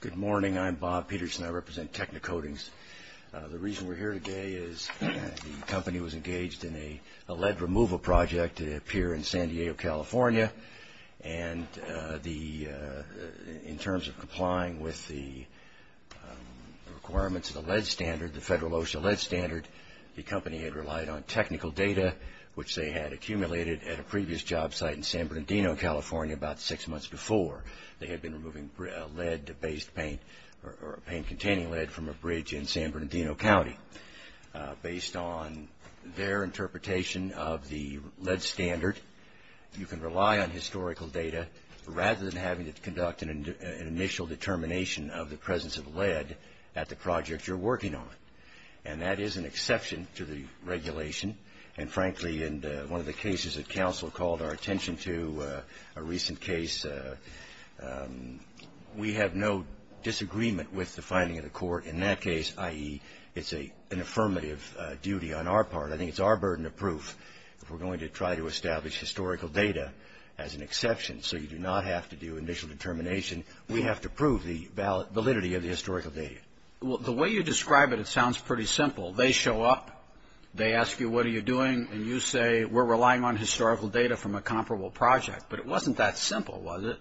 Good morning. I'm Bob Peterson. I represent Techno Coatings. The reason we're here today is the company was engaged in a lead removal project at a pier in San Diego, California. In terms of complying with the requirements of the Federal OSHA lead standard, the company had relied on technical data, which they had accumulated at a previous job site in San Bernardino, California, about six months before they had been removing lead-based paint or paint-containing lead from a bridge in San Bernardino County. Based on their interpretation of the lead standard, you can rely on historical data rather than having to conduct an initial determination of the presence of lead at the project you're working on. And that is an exception to the regulation. And frankly, in one of the cases that counsel called our recent case, we have no disagreement with the finding of the court in that case, i.e., it's an affirmative duty on our part. I think it's our burden of proof if we're going to try to establish historical data as an exception. So you do not have to do initial determination. We have to prove the validity of the historical data. Roberts. Well, the way you describe it, it sounds pretty simple. They show up, they ask you what are you doing, and you say we're relying on historical data from a comparable project. But it wasn't that simple, was it?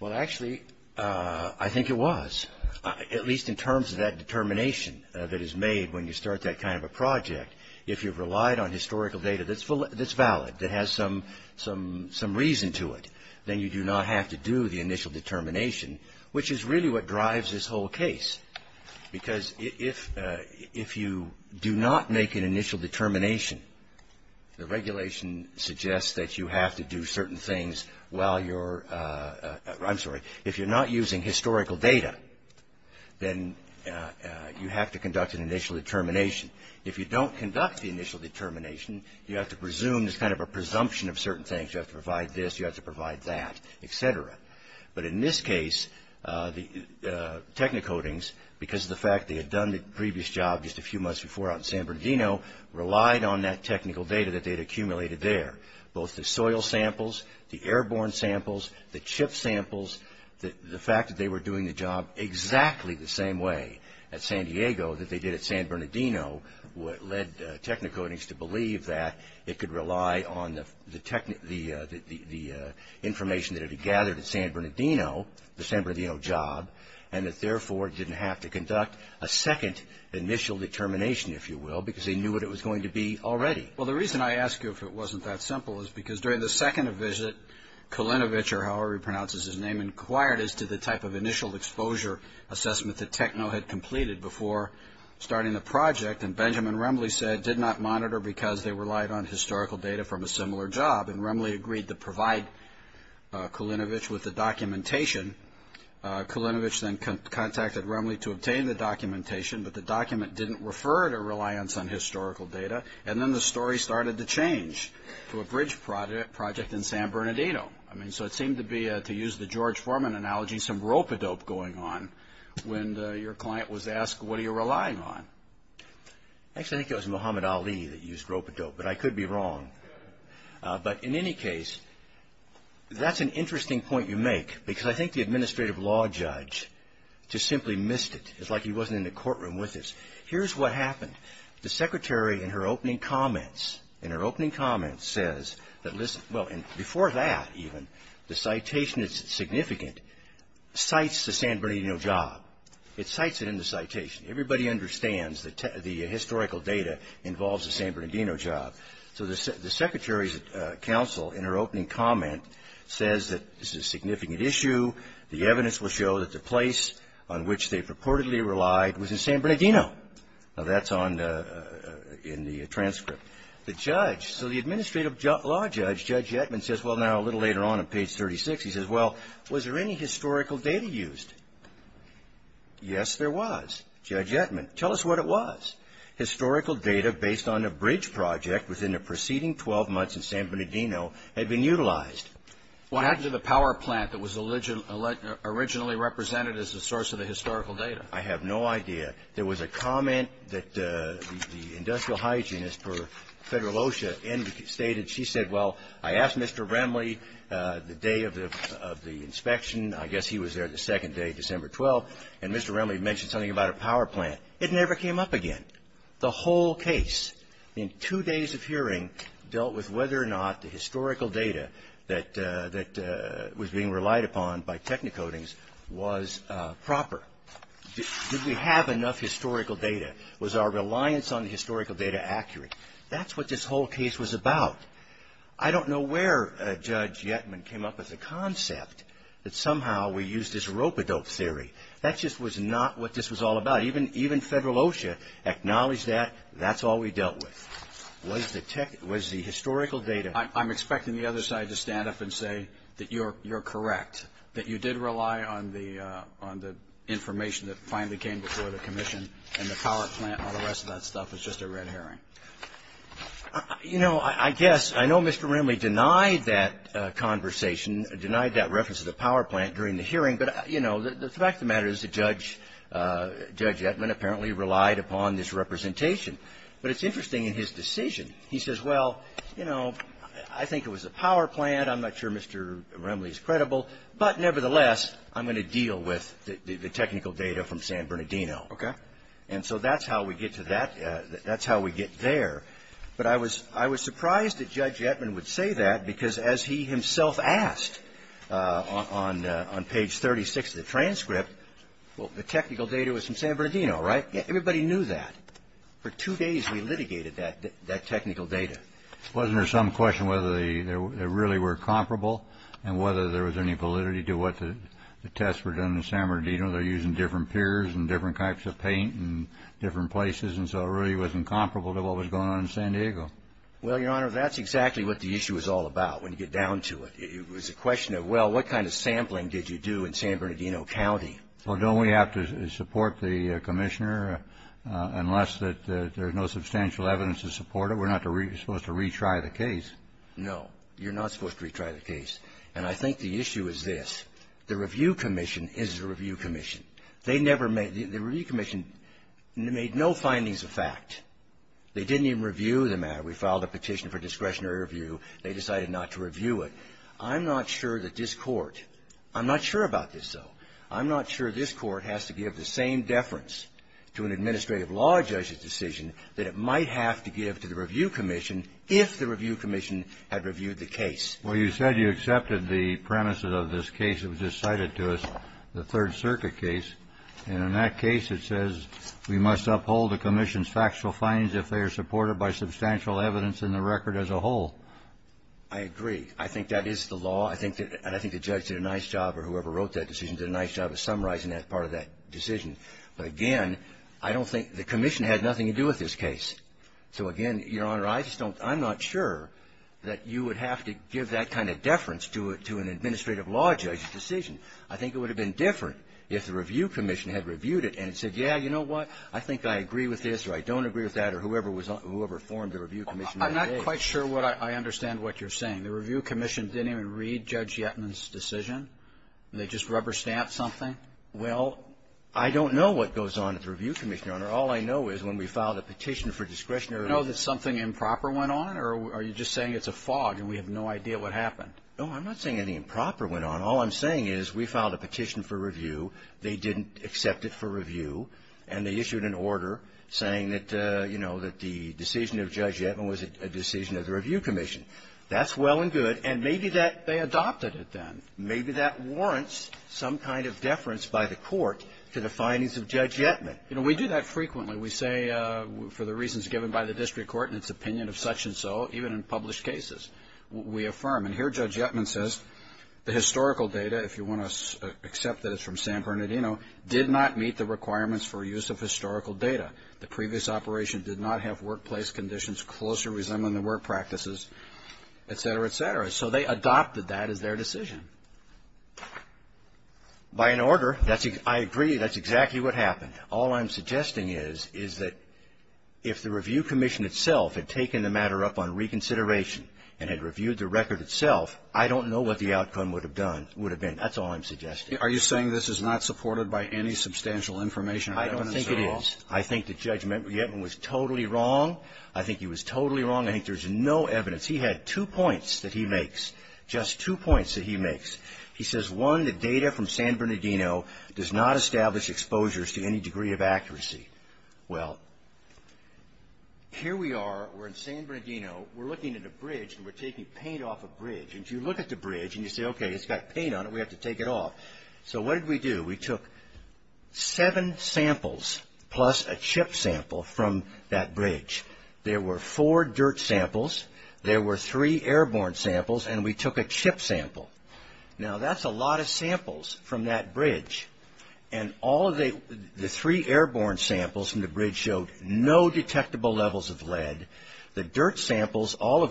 Well, actually, I think it was, at least in terms of that determination that is made when you start that kind of a project. If you've relied on historical data that's valid, that has some reason to it, then you do not have to do the initial determination, which is really what drives this whole case. Because if you do not make an initial determination, the regulation suggests that you have to do certain things while you're – I'm sorry, if you're not using historical data, then you have to conduct an initial determination. If you don't conduct the initial determination, you have to presume there's kind of a presumption of certain things. You have to provide this, you have to provide that, et cetera. But in this case, the technicodings, because of the fact they had done the previous job just a few months before out in San Bernardino, relied on that technical data that they had accumulated there. Both the soil samples, the airborne samples, the chip samples, the fact that they were doing the job exactly the same way at San Diego that they did at San Bernardino led technicodings to believe that it could rely on the information that it had gathered at San Bernardino, the San Bernardino job, and that therefore it didn't have to conduct a second initial determination, if you will, because they knew what it was going to be already. Well, the reason I ask you if it wasn't that simple is because during the second visit, Kalinovich, or however he pronounces his name, inquired as to the type of initial exposure assessment that Techno had completed before starting the project. And Benjamin Remle said did not monitor because they relied on historical data from a similar job. And Remle agreed to provide Kalinovich with the documentation. Kalinovich then contacted Remle to obtain the documentation, but the document didn't refer to a reliance on historical data. And then the story started to change to a bridge project in San Bernardino. I mean, so it seemed to be, to use the George Foreman analogy, some rope-a-dope going on when your client was asked what are you relying on. Actually, I think it was Muhammad Ali that used rope-a-dope, but I could be wrong. But in any case, that's an interesting point you make because I think the Administrative Law Judge just simply missed it. It's like he wasn't in the courtroom with us. Here's what happened. The Secretary, in her opening comments, in her opening comments says that this, well, before that even, the citation is significant, cites the San Bernardino job. It cites it in the citation. Everybody understands that the historical data involves the San Bernardino job. And the Counsel, in her opening comment, says that this is a significant issue. The evidence will show that the place on which they purportedly relied was in San Bernardino. Now, that's on the, in the transcript. The judge, so the Administrative Law Judge, Judge Yetman, says, well, now, a little later on on page 36, he says, well, was there any historical data used? Yes, there was. Judge Yetman, tell us what it was. Historical data based on a bridge project within the preceding 12 months in San Bernardino had been utilized. What happened to the power plant that was originally represented as the source of the historical data? I have no idea. There was a comment that the industrial hygienist for Federal OSHA stated. She said, well, I asked Mr. Remley the day of the inspection. I guess he was there the second day, December 12th, and Mr. Remley mentioned something about a power plant. It never came up again. The whole case in two days of hearing dealt with whether or not the historical data that was being relied upon by technicodings was proper. Did we have enough historical data? Was our reliance on the historical data accurate? That's what this whole case was about. I don't know where Judge Yetman came up with the concept that somehow we used this rope adult theory. That just was not what this was all about. Even Federal OSHA acknowledged that. That's all we dealt with was the historical data. I'm expecting the other side to stand up and say that you're correct, that you did rely on the information that finally came before the Commission and the power plant and all the rest of that stuff was just a red herring. You know, I guess, I know Mr. Remley denied that conversation, denied that reference to the power plant during the hearing, but, you know, the fact of the matter is that Judge Yetman apparently relied upon this representation. But it's interesting in his decision. He says, well, you know, I think it was the power plant. I'm not sure Mr. Remley is credible, but, nevertheless, I'm going to deal with the technical data from San Bernardino. Okay. And so that's how we get to that. That's how we get there. But I was – I was surprised that Judge Yetman would say that, because as he himself asked on page 36 of the transcript, well, the technical data was from San Bernardino, right? Everybody knew that. For two days, we litigated that technical data. Wasn't there some question whether they really were comparable and whether there was any validity to what the tests were done in San Bernardino? They're using different pures and different types of paint and different places, and so it really wasn't comparable to what was going on in San Diego. Well, Your Honor, that's exactly what the issue was all about when you get down to it. It was a question of, well, what kind of sampling did you do in San Bernardino County? Well, don't we have to support the Commissioner unless that there's no substantial evidence to support it? We're not supposed to retry the case. No. You're not supposed to retry the case. And I think the issue is this. The Review Commission is the Review Commission. They never made – the Review Commission made no findings of fact. They didn't even review the matter. We filed a petition for discretionary review. They decided not to review it. I'm not sure that this Court – I'm not sure about this, though. I'm not sure this Court has to give the same deference to an administrative law judge's decision that it might have to give to the Review Commission if the Review Commission had reviewed the case. Well, you said you accepted the premises of this case that was just cited to us, the Third I agree. I think that is the law. I think that – and I think the judge did a nice job, or whoever wrote that decision did a nice job of summarizing that part of that decision. But again, I don't think the Commission had nothing to do with this case. So again, Your Honor, I just don't – I'm not sure that you would have to give that kind of deference to an administrative law judge's decision. I think it would have been different if the Review Commission had reviewed it and said, yeah, you know what, I think I agree with this, or I don't agree with that, or whoever was – whoever formed the Review Commission. I'm not quite sure what I – I understand what you're saying. The Review Commission didn't even read Judge Yetman's decision? They just rubber-stamped something? Well, I don't know what goes on at the Review Commission, Your Honor. All I know is when we filed a petition for discretionary review – Do you know that something improper went on, or are you just saying it's a fog and we have no idea what happened? No, I'm not saying anything improper went on. All I'm saying is we filed a petition for review. They didn't accept it for review, and they issued an order saying that, you know, that the decision of Judge Yetman was a decision of the Review Commission. That's well and good, and maybe that – they adopted it then. Maybe that warrants some kind of deference by the Court to the findings of Judge Yetman. You know, we do that frequently. We say for the reasons given by the district court in its opinion of such and so, even in published cases, we affirm. And here it's – except that it's from San Bernardino – did not meet the requirements for use of historical data. The previous operation did not have workplace conditions close or resembling the work practices, et cetera, et cetera. So they adopted that as their decision. By an order, that's – I agree. That's exactly what happened. All I'm suggesting is is that if the Review Commission itself had taken the matter up on reconsideration and had reviewed the record itself, I don't know what the outcome would have done – would have been. That's all I'm suggesting. Are you saying this is not supported by any substantial information or evidence at all? I don't think it is. I think that Judge Yetman was totally wrong. I think he was totally wrong. I think there's no evidence. He had two points that he makes, just two points that he makes. He says, one, the data from San Bernardino does not establish exposures to any degree of accuracy. Well, here we are. We're in San Bernardino. We're looking at a bridge, and we're taking paint off a bridge. And you look at the bridge, and you say, okay, it's got paint on it. We have to take it off. So what did we do? We took seven samples plus a chip sample from that bridge. There were four dirt samples. There were three airborne samples, and we took a chip sample. Now, that's a lot of samples from that bridge, and all of the three airborne samples from the bridge showed no detectable levels of lead. The dirt samples showed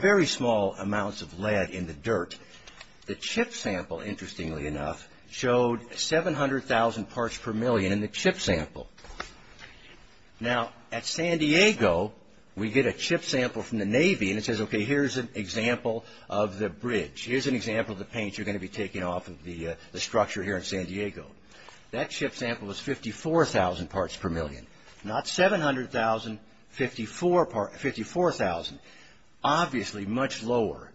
very small amounts of lead in the dirt. The chip sample, interestingly enough, showed 700,000 parts per million in the chip sample. Now, at San Diego, we get a chip sample from the Navy, and it says, okay, here's an example of the bridge. Here's an example of the paint you're going to be taking off of the structure here in San Diego. That chip sample was 54,000 parts per million, not 700,000, 54,000. Obviously, much lower.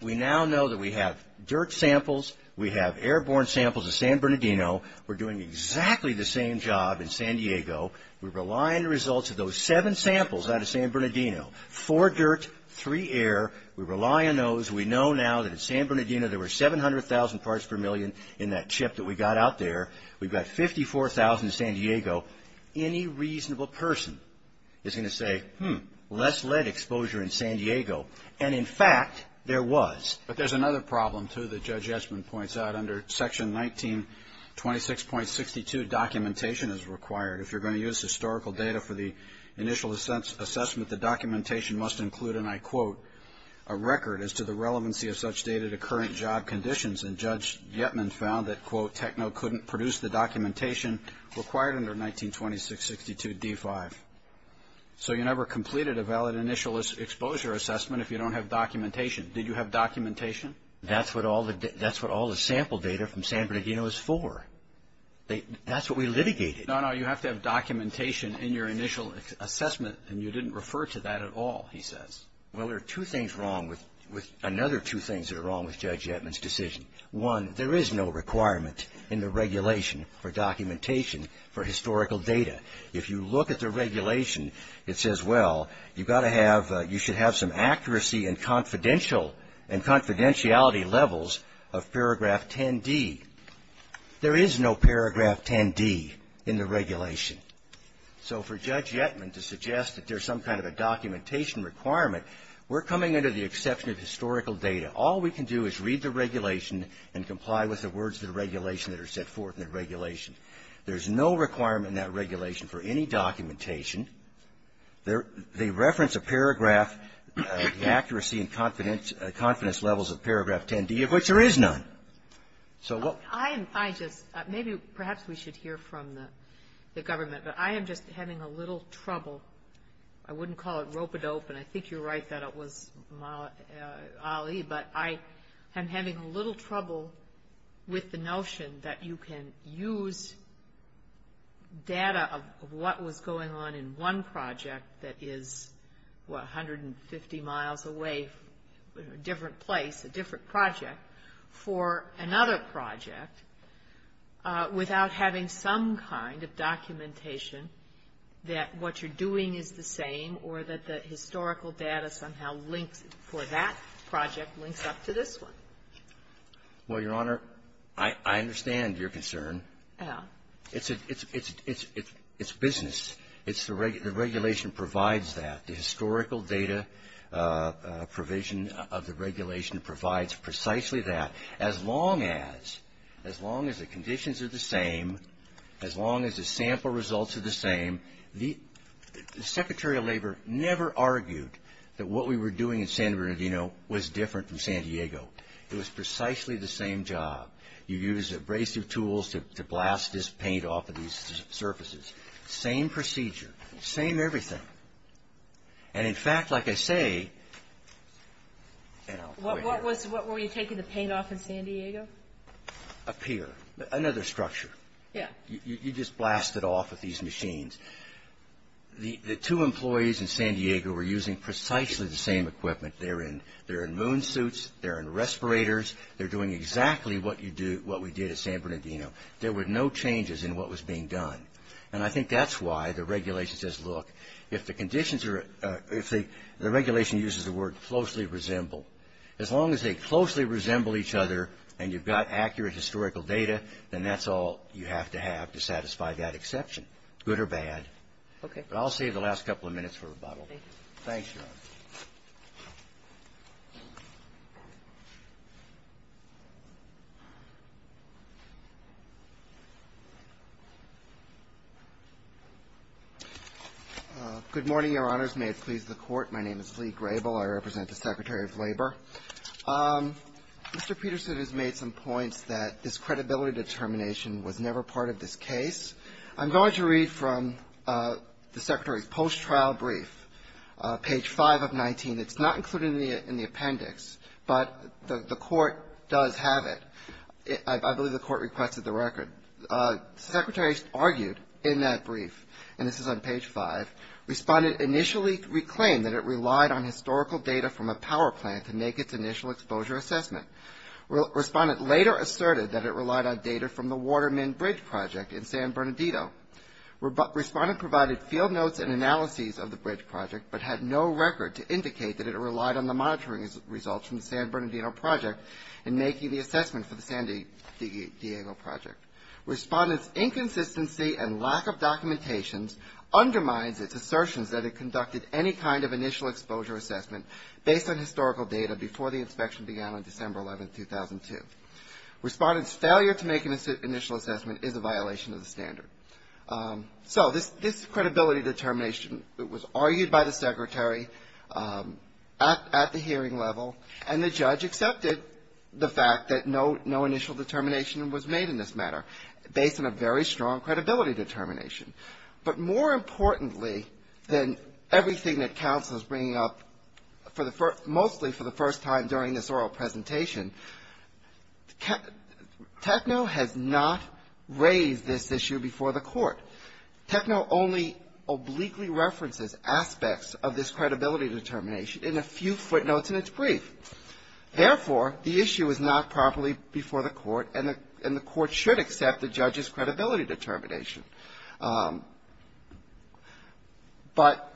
We now know that we have dirt samples. We have airborne samples of San Bernardino. We're doing exactly the same job in San Diego. We rely on the results of those seven samples out of San Bernardino. Four dirt, three air. We rely on those. We know now that at San Bernardino, there were 700,000 parts per million in that chip that we got out there. We've got 54,000 in San Diego. Any reasonable person is going to say, hmm, less lead exposure in San Diego. And, in fact, there was. But there's another problem, too, that Judge Yetman points out. Under Section 1926.62, documentation is required. If you're going to use historical data for the initial assessment, the documentation must include, and I quote, a record as to the relevancy of such data to current job conditions. And Judge Yetman found that, quote, Techno couldn't produce the documentation required under 1926.62d5. So you never completed a valid initial exposure assessment if you don't have documentation. Did you have documentation? That's what all the sample data from San Bernardino is for. That's what we litigated. No, no. You have to have documentation in your initial assessment. And you didn't refer to that at all, he says. Well, there are two things wrong with another two things that are wrong with Judge Yetman's decision. One, there is no requirement in the regulation for documentation for historical data. If you look at the regulation, it says, well, you've got to have, you should have some accuracy and confidentiality levels of paragraph 10d. There is no paragraph 10d in the regulation. So for Judge Yetman to suggest that there's some kind of a documentation requirement, we're coming under the exception of historical data. All we can do is read the regulation and comply with the words of the regulation that are set forth in the regulation. There's no requirement in that regulation for any documentation. They reference a paragraph, the accuracy and confidence levels of paragraph 10d, of which there is none. So what — I just — maybe perhaps we should hear from the government. But I am just having a little trouble. I wouldn't call it rope-a-dope. And I think you're right that it was, Ali, but I am having a little trouble with the notion that you can use data of what was going on in one project that is, what, 150 miles away, a different place, a different project, for another project without having some kind of documentation, that what you're doing is the same or that the historical data somehow links for that project links up to this one. Well, Your Honor, I understand your concern. Oh. It's a — it's business. It's the — the regulation provides that. The historical data provision of the regulation provides precisely that. As long as — as long as the conditions are the same, as long as the sample results are the same, the Secretary of Labor never argued that what we were doing in San Bernardino was different from San Diego. It was precisely the same job. You used abrasive tools to blast this paint off of these surfaces. Same procedure. Same everything. And in fact, like I say — What was — were you taking the paint off in San Diego? A pier. Another structure. Yeah. You just blast it off with these machines. The two employees in San Diego were using precisely the same equipment. They're in — they're in moon suits. They're in respirators. They're doing exactly what you do — what we did at San Bernardino. There were no changes in what was being done. And I think that's why the regulation says, look, if the conditions are — if the regulation uses the word closely resemble, as long as they closely resemble each other and you've got accurate historical data, then that's all you have to have to satisfy that exception, good or bad. Okay. But I'll save the last couple of minutes for rebuttal. Thank you. Thanks, Your Honor. Good morning, Your Honors. May it please the Court. My name is Lee Grable. I represent the Secretary of Labor. Mr. Peterson has made some points that this credibility determination was never part of this case. I'm going to read from the Secretary's post-trial brief, page 5 of 19. It's not included in the appendix, but the Court does have it. I believe the Court requested the record. The Secretary argued in that brief — and this is on page 5 — responded, initially reclaimed that it relied on historical data from a power plant to make its initial exposure assessment. Respondent later asserted that it relied on data from the Waterman Bridge Project in San Bernardino. Respondent provided field notes and analyses of the bridge project, but had no record to indicate that it relied on the monitoring results from the San Bernardino project in making the assessment for the San Diego project. Respondent's inconsistency and lack of documentations undermines its assertions that it conducted any kind of initial exposure assessment based on historical data before the inspection began on December 11, 2002. Respondent's failure to make an initial assessment is a violation of the standard. So this credibility determination was argued by the Secretary at the hearing level, and the judge accepted the fact that no initial determination was made in this matter based on a very strong credibility determination. But more importantly than everything that counsel is bringing up mostly for the first time during this oral presentation, TECNO has not raised this issue before the court. TECNO only obliquely references aspects of this credibility determination in a few footnotes in its brief. Therefore, the issue is not properly before the court, and the court should accept the evidence. But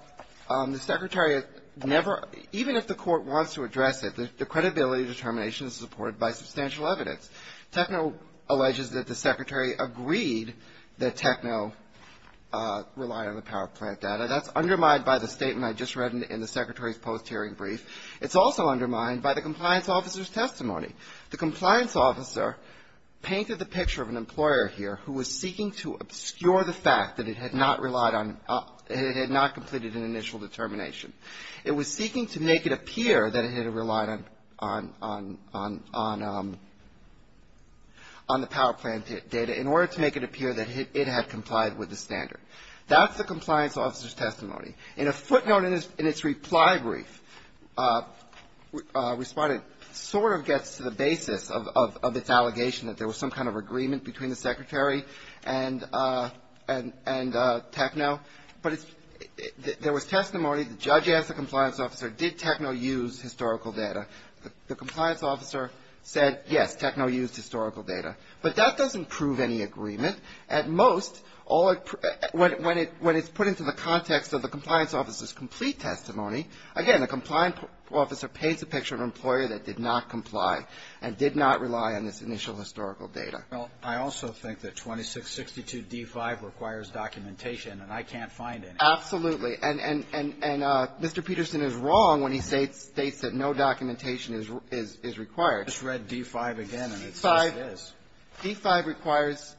the Secretary never, even if the court wants to address it, the credibility determination is supported by substantial evidence. TECNO alleges that the Secretary agreed that TECNO relied on the power plant data. That's undermined by the statement I just read in the Secretary's post-hearing brief. It's also undermined by the compliance officer's testimony. The compliance officer painted the picture of an employer here who was seeking to obscure the fact that it had not relied on, it had not completed an initial determination. It was seeking to make it appear that it had relied on the power plant data in order to make it appear that it had complied with the standard. That's the compliance officer's testimony. In a footnote in its reply brief, Respondent sort of gets to the basis of its allegation that there was some kind of agreement between the Secretary and TECNO. But there was testimony, the judge asked the compliance officer, did TECNO use historical data? The compliance officer said, yes, TECNO used historical data. But that doesn't prove any agreement. At most, when it's put into the context of the compliance officer's complete testimony, again, the compliance officer paints a picture of an employer that did not comply and did not rely on this initial historical data. Alito, I also think that 2662d5 requires documentation, and I can't find any. Absolutely. And Mr. Peterson is wrong when he states that no documentation is required. I just read d5 again, and it says it is. d5 requires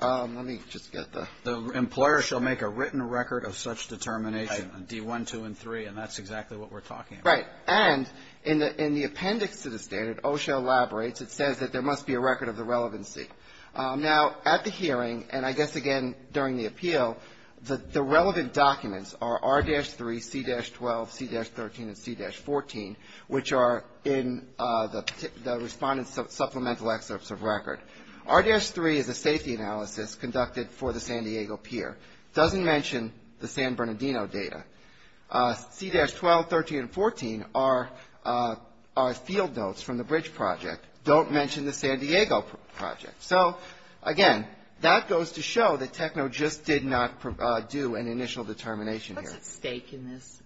the employer shall make a written record of such determination, d1, 2, and 3, and that's exactly what we're talking about. Right. And in the appendix to the standard, OSHA elaborates, it says that there must be a record of the relevancy. Now, at the hearing, and I guess, again, during the appeal, the relevant documents are r-3, c-12, c-13, and c-14, which are in the Respondent's Supplemental Excerpts of Record. r-3 is a safety analysis conducted for the San Diego Pier. It doesn't mention the San Bernardino data. c-12, 13, and 14 are field notes from the bridge project. Don't mention the San Diego project. So, again, that goes to show that TECNO just did not do an initial determination here. What's at stake in this?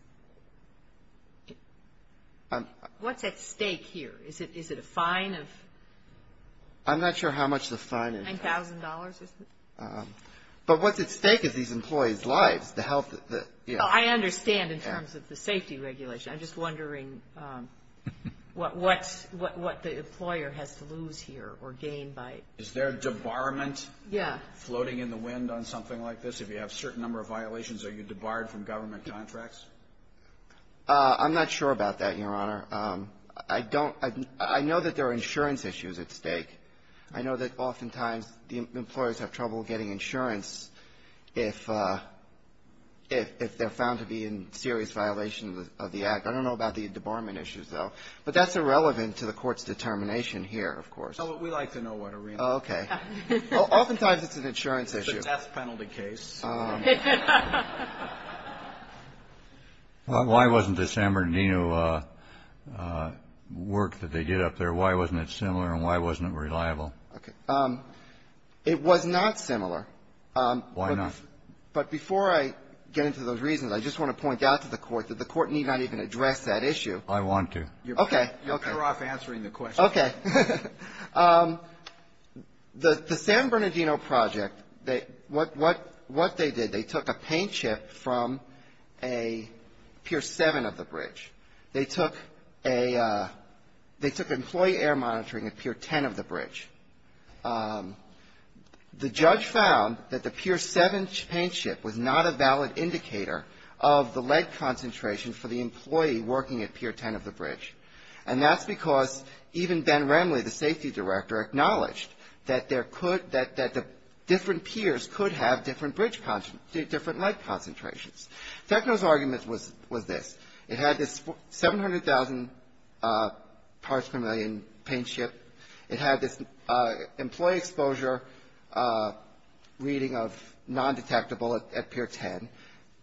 What's at stake here? Is it a fine of? I'm not sure how much the fine is. $9,000, isn't it? But what's at stake is these employees' lives, the health, the, you know. Well, I understand in terms of the safety regulation. I'm just wondering what the employer has to lose here or gain by. Is there a debarment floating in the wind on something like this? If you have a certain number of violations, are you debarred from government contracts? I'm not sure about that, Your Honor. I don't, I know that there are insurance issues at stake. I know that oftentimes the employers have trouble getting insurance if they're found to be in serious violation of the act. I don't know about the debarment issues, though. But that's irrelevant to the court's determination here, of course. No, but we like to know what it really is. Oh, okay. Oftentimes it's an insurance issue. It's a test penalty case. Why wasn't the San Bernardino work that they did up there, why wasn't it similar, and why wasn't it reliable? Okay. It was not similar. Why not? But before I get into those reasons, I just want to point out to the Court that the Court need not even address that issue. I want to. Okay. You're better off answering the question. Okay. The San Bernardino project, what they did, they took a paint chip from a Pier 7 of the bridge. They took employee air monitoring at Pier 10 of the bridge. The judge found that the Pier 7 paint chip was not a valid indicator of the lead concentration for the employee working at Pier 10 of the bridge. And that's because even Ben Remley, the safety director, acknowledged that the different piers could have different lead concentrations. Techno's argument was this. It had this 700,000 parts per million paint chip. It had this employee exposure reading of non-detectable at Pier 10.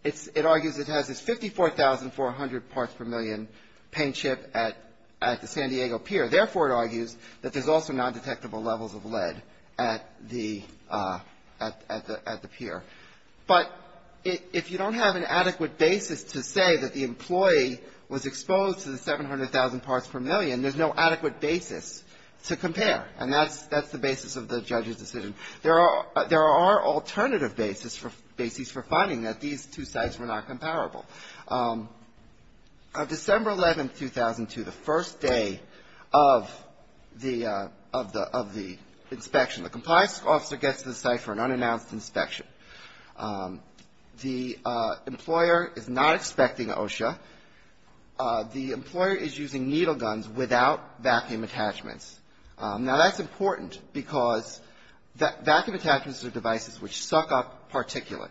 It argues it has this 54,400 parts per million paint chip at the San Diego pier. Therefore, it argues that there's also non-detectable levels of lead at the pier. But if you don't have an adequate basis to say that the employee was exposed to the 700,000 parts per million, there's no adequate basis to compare. And that's the basis of the judge's decision. There are alternative basis for finding that these two sites were not comparable. On December 11, 2002, the first day of the inspection, the compliance officer gets to the site for an unannounced inspection. The employer is not expecting OSHA. The employer is using needle guns without vacuum attachments. Now, that's important because vacuum attachments are devices which suck up particulate.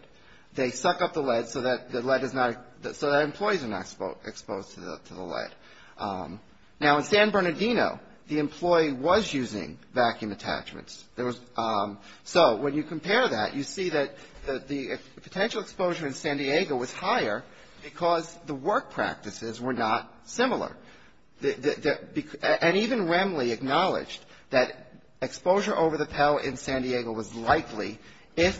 They suck up the lead so that the lead is not, so that employees are not exposed to the lead. Now, in San Bernardino, the employee was using vacuum attachments. So when you compare that, you see that the potential exposure in San Diego was higher because the work practices were not similar. And even Wembley acknowledged that exposure over the Pell in San Diego was likely if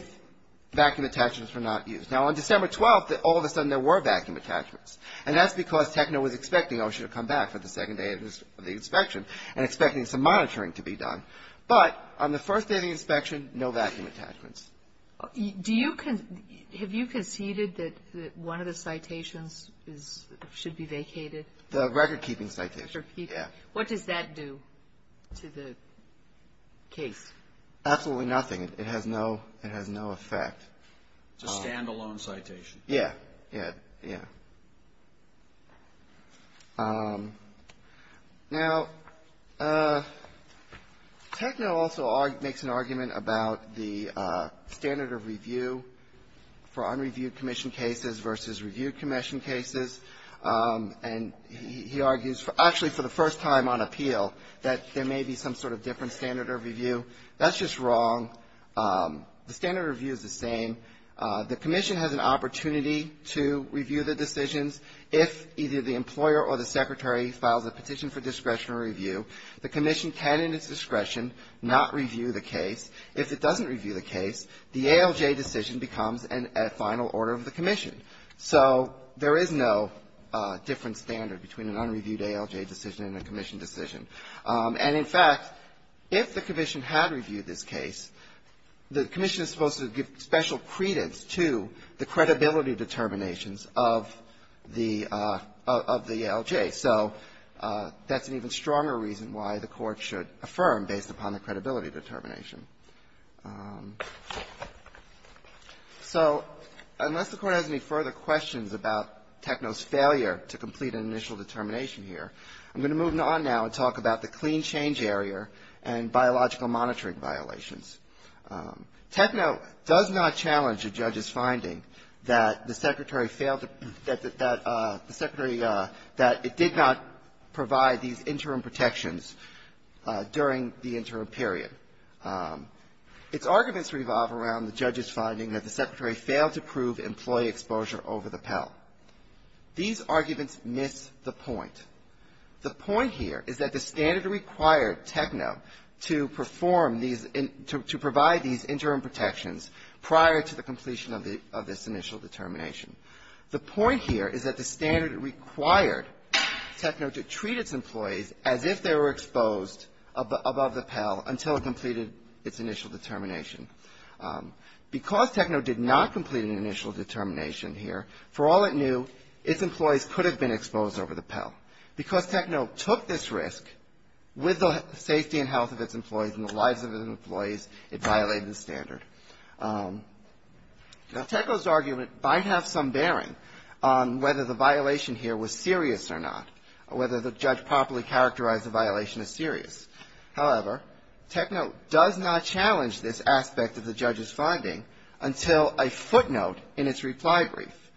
vacuum attachments were not used. Now, on December 12, all of a sudden, there were vacuum attachments. And that's because Techno was expecting OSHA to come back for the second day of the inspection and expecting some monitoring to be done. But on the first day of the inspection, no vacuum attachments. Do you, have you conceded that one of the citations is, should be vacated? The recordkeeping citation, yeah. What does that do to the case? Absolutely nothing. It has no, it has no effect. It's a standalone citation. Yeah, yeah, yeah. Now, Techno also makes an argument about the standard of review for unreviewed commission cases versus reviewed commission cases. And he argues, actually for the first time on appeal, that there may be some sort of different standard of review. That's just wrong. The standard of review is the same. The commission has an opportunity to review the decisions. If either the employer or the secretary files a petition for discretionary review, the commission can, in its discretion, not review the case. If it doesn't review the case, the ALJ decision becomes a final order of the commission. So there is no different standard between an unreviewed ALJ decision and a commission decision. And, in fact, if the commission had reviewed this case, the commission is supposed to give special credence to the credibility determinations of the ALJ. So that's an even stronger reason why the Court should affirm based upon the credibility determination. So unless the Court has any further questions about Techno's failure to complete an initial determination here, I'm going to move on now and talk about the clean change area and biological monitoring violations. Techno does not challenge the judge's finding that the secretary failed to, that the secretary, that it did not provide these interim protections during the interim period. Its arguments revolve around the judge's finding that the secretary failed to prove employee exposure over the Pell. These arguments miss the point. The point here is that the standard required Techno to perform these, to provide these interim protections prior to the completion of the, of this initial determination. The point here is that the standard required Techno to treat its employees as if they were exposed above the Pell until it completed its initial determination. Because Techno did not complete an initial determination here, for all it knew, its employees could have been exposed over the Pell. Because Techno took this risk, with the safety and health of its employees and the lives of its employees, it violated the standard. Now, Techno's argument might have some bearing on whether the violation here was serious or not, whether the judge properly characterized the violation as serious. However, Techno does not challenge this aspect of the judge's finding until a footnote in its reply brief.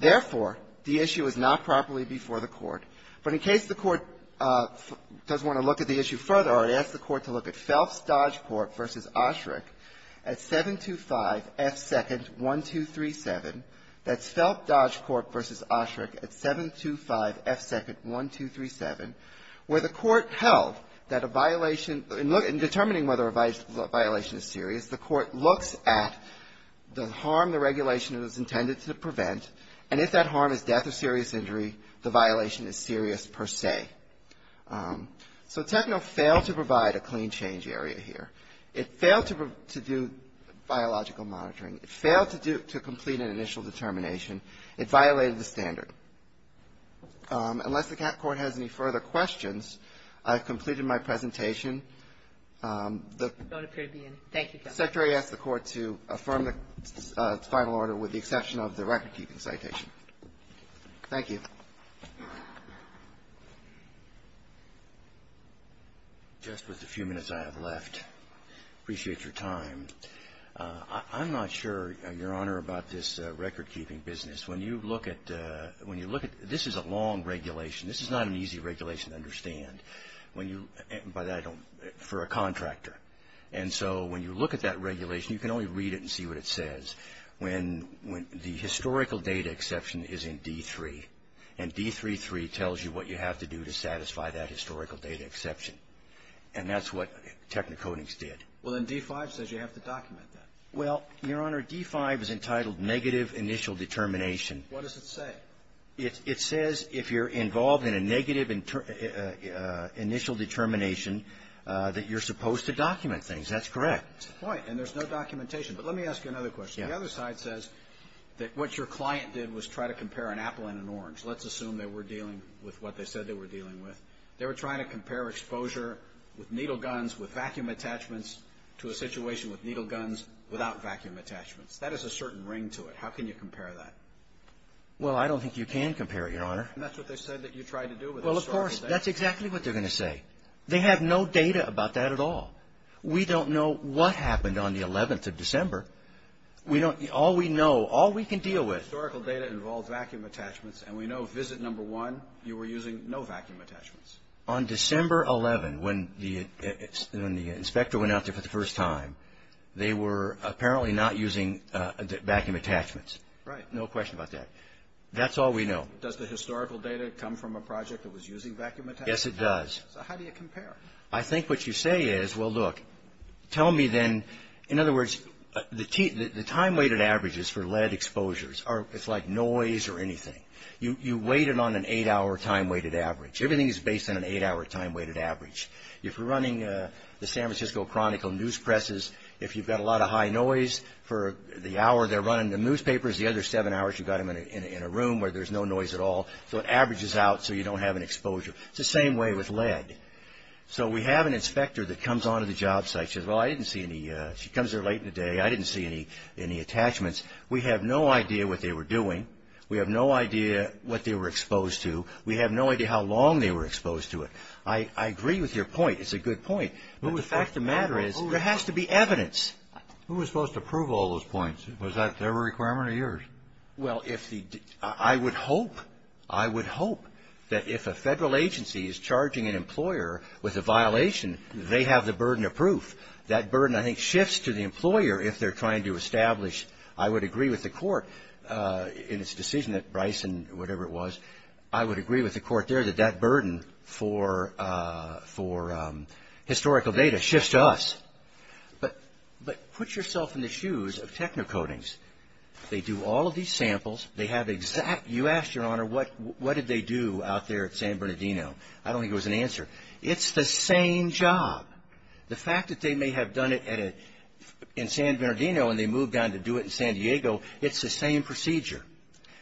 Therefore, the issue is not properly before the Court. But in case the Court does want to look at the issue further, I'd ask the Court to look at Phelps-Dodgcourt v. Osherick at 725 F. 2nd, 1237. That's Phelps-Dodgcourt v. Osherick at 725 F. 2nd, 1237, where the Court held that a violation, in determining whether a violation is serious, the Court looks at the harm the regulation is intended to prevent, and if that harm is death or serious injury, the violation is serious per se. So Techno failed to provide a clean change area here. It failed to do biological monitoring. It failed to complete an initial determination. It violated the standard. Unless the Court has any further questions, I've completed my presentation. The Court asked the Court to affirm the final order with the exception of the recordkeeping citation. Thank you. Just with the few minutes I have left, I appreciate your time. I'm not sure, Your Honor, about this recordkeeping business. When you look at the – when you look at – this is a long regulation. This is not an easy regulation to understand. When you – but I don't – for a contractor. And so when you look at that regulation, you can only read it and see what it says. When the historical data exception is in D-3, and D-3-3 tells you what you have to do to satisfy that historical data exception, and that's what Technocodings did. Well, then D-5 says you have to document that. Well, Your Honor, D-5 is entitled Negative Initial Determination. What does it say? It says if you're involved in a negative initial determination, that you're supposed to document things. That's correct. That's the point. And there's no documentation. But let me ask you another question. The other side says that what your client did was try to compare an apple and an orange. Let's assume they were dealing with what they said they were dealing with. They were trying to compare exposure with needle guns, with vacuum attachments, to a situation with needle guns. Without vacuum attachments. That is a certain ring to it. How can you compare that? Well, I don't think you can compare it, Your Honor. And that's what they said that you tried to do with historical data. Well, of course, that's exactly what they're going to say. They have no data about that at all. We don't know what happened on the 11th of December. All we know, all we can deal with. Historical data involves vacuum attachments, and we know visit number one, you were using no vacuum attachments. On December 11th, when the inspector went out there for the first time, they were apparently not using vacuum attachments. Right. No question about that. That's all we know. Does the historical data come from a project that was using vacuum attachments? Yes, it does. So how do you compare? I think what you say is, well, look, tell me then. In other words, the time-weighted average is for lead exposures. It's like noise or anything. You weight it on an eight-hour time-weighted average. Everything is based on an eight-hour time-weighted average. If you're running the San Francisco Chronicle news presses, if you've got a lot of high noise for the hour they're running the newspapers, the other seven hours you've got them in a room where there's no noise at all, so it averages out so you don't have an exposure. It's the same way with lead. So we have an inspector that comes onto the job site. She says, well, I didn't see any. She comes there late in the day. I didn't see any attachments. We have no idea what they were doing. We have no idea what they were exposed to. We have no idea how long they were exposed to it. I agree with your point. It's a good point. But the fact of the matter is there has to be evidence. Who was supposed to prove all those points? Was that their requirement or yours? Well, I would hope. I would hope that if a federal agency is charging an employer with a violation, they have the burden of proof. That burden, I think, shifts to the employer if they're trying to establish. I would agree with the court in its decision that Bryson, whatever it was, I would agree with the court there that that burden for historical data shifts to us. But put yourself in the shoes of Technocodings. They do all of these samples. They have exact. You asked, Your Honor, what did they do out there at San Bernardino. I don't think there was an answer. It's the same job. The fact that they may have done it in San Bernardino and they moved on to do it in San Diego, it's the same procedure.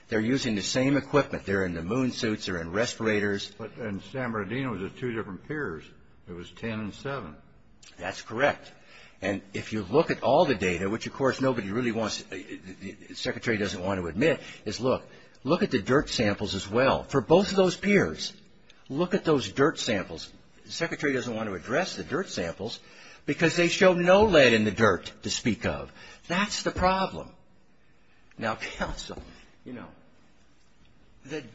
They're using the same equipment. They're in the moon suits. They're in respirators. But in San Bernardino, it was two different piers. It was 10 and 7. That's correct. And if you look at all the data, which, of course, nobody really wants, the Secretary doesn't want to admit, is look. Look at the dirt samples as well for both of those piers. Look at those dirt samples. The Secretary doesn't want to address the dirt samples because they show no lead in the dirt to speak of. That's the problem. Now, counsel, you know,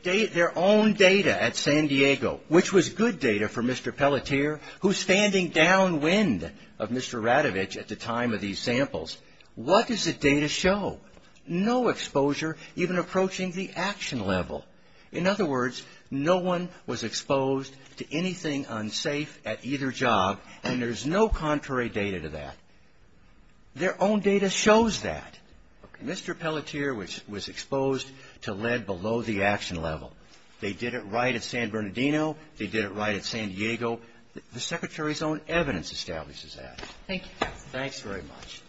their own data at San Diego, which was good data for Mr. Pelletier, who's standing downwind of Mr. Radovich at the time of these samples, what does the data show? No exposure, even approaching the action level. In other words, no one was exposed to anything unsafe at either job, and there's no contrary data to that. Their own data shows that. Mr. Pelletier was exposed to lead below the action level. They did it right at San Bernardino. They did it right at San Diego. The Secretary's own evidence establishes that. Thank you, counsel. Thanks very much.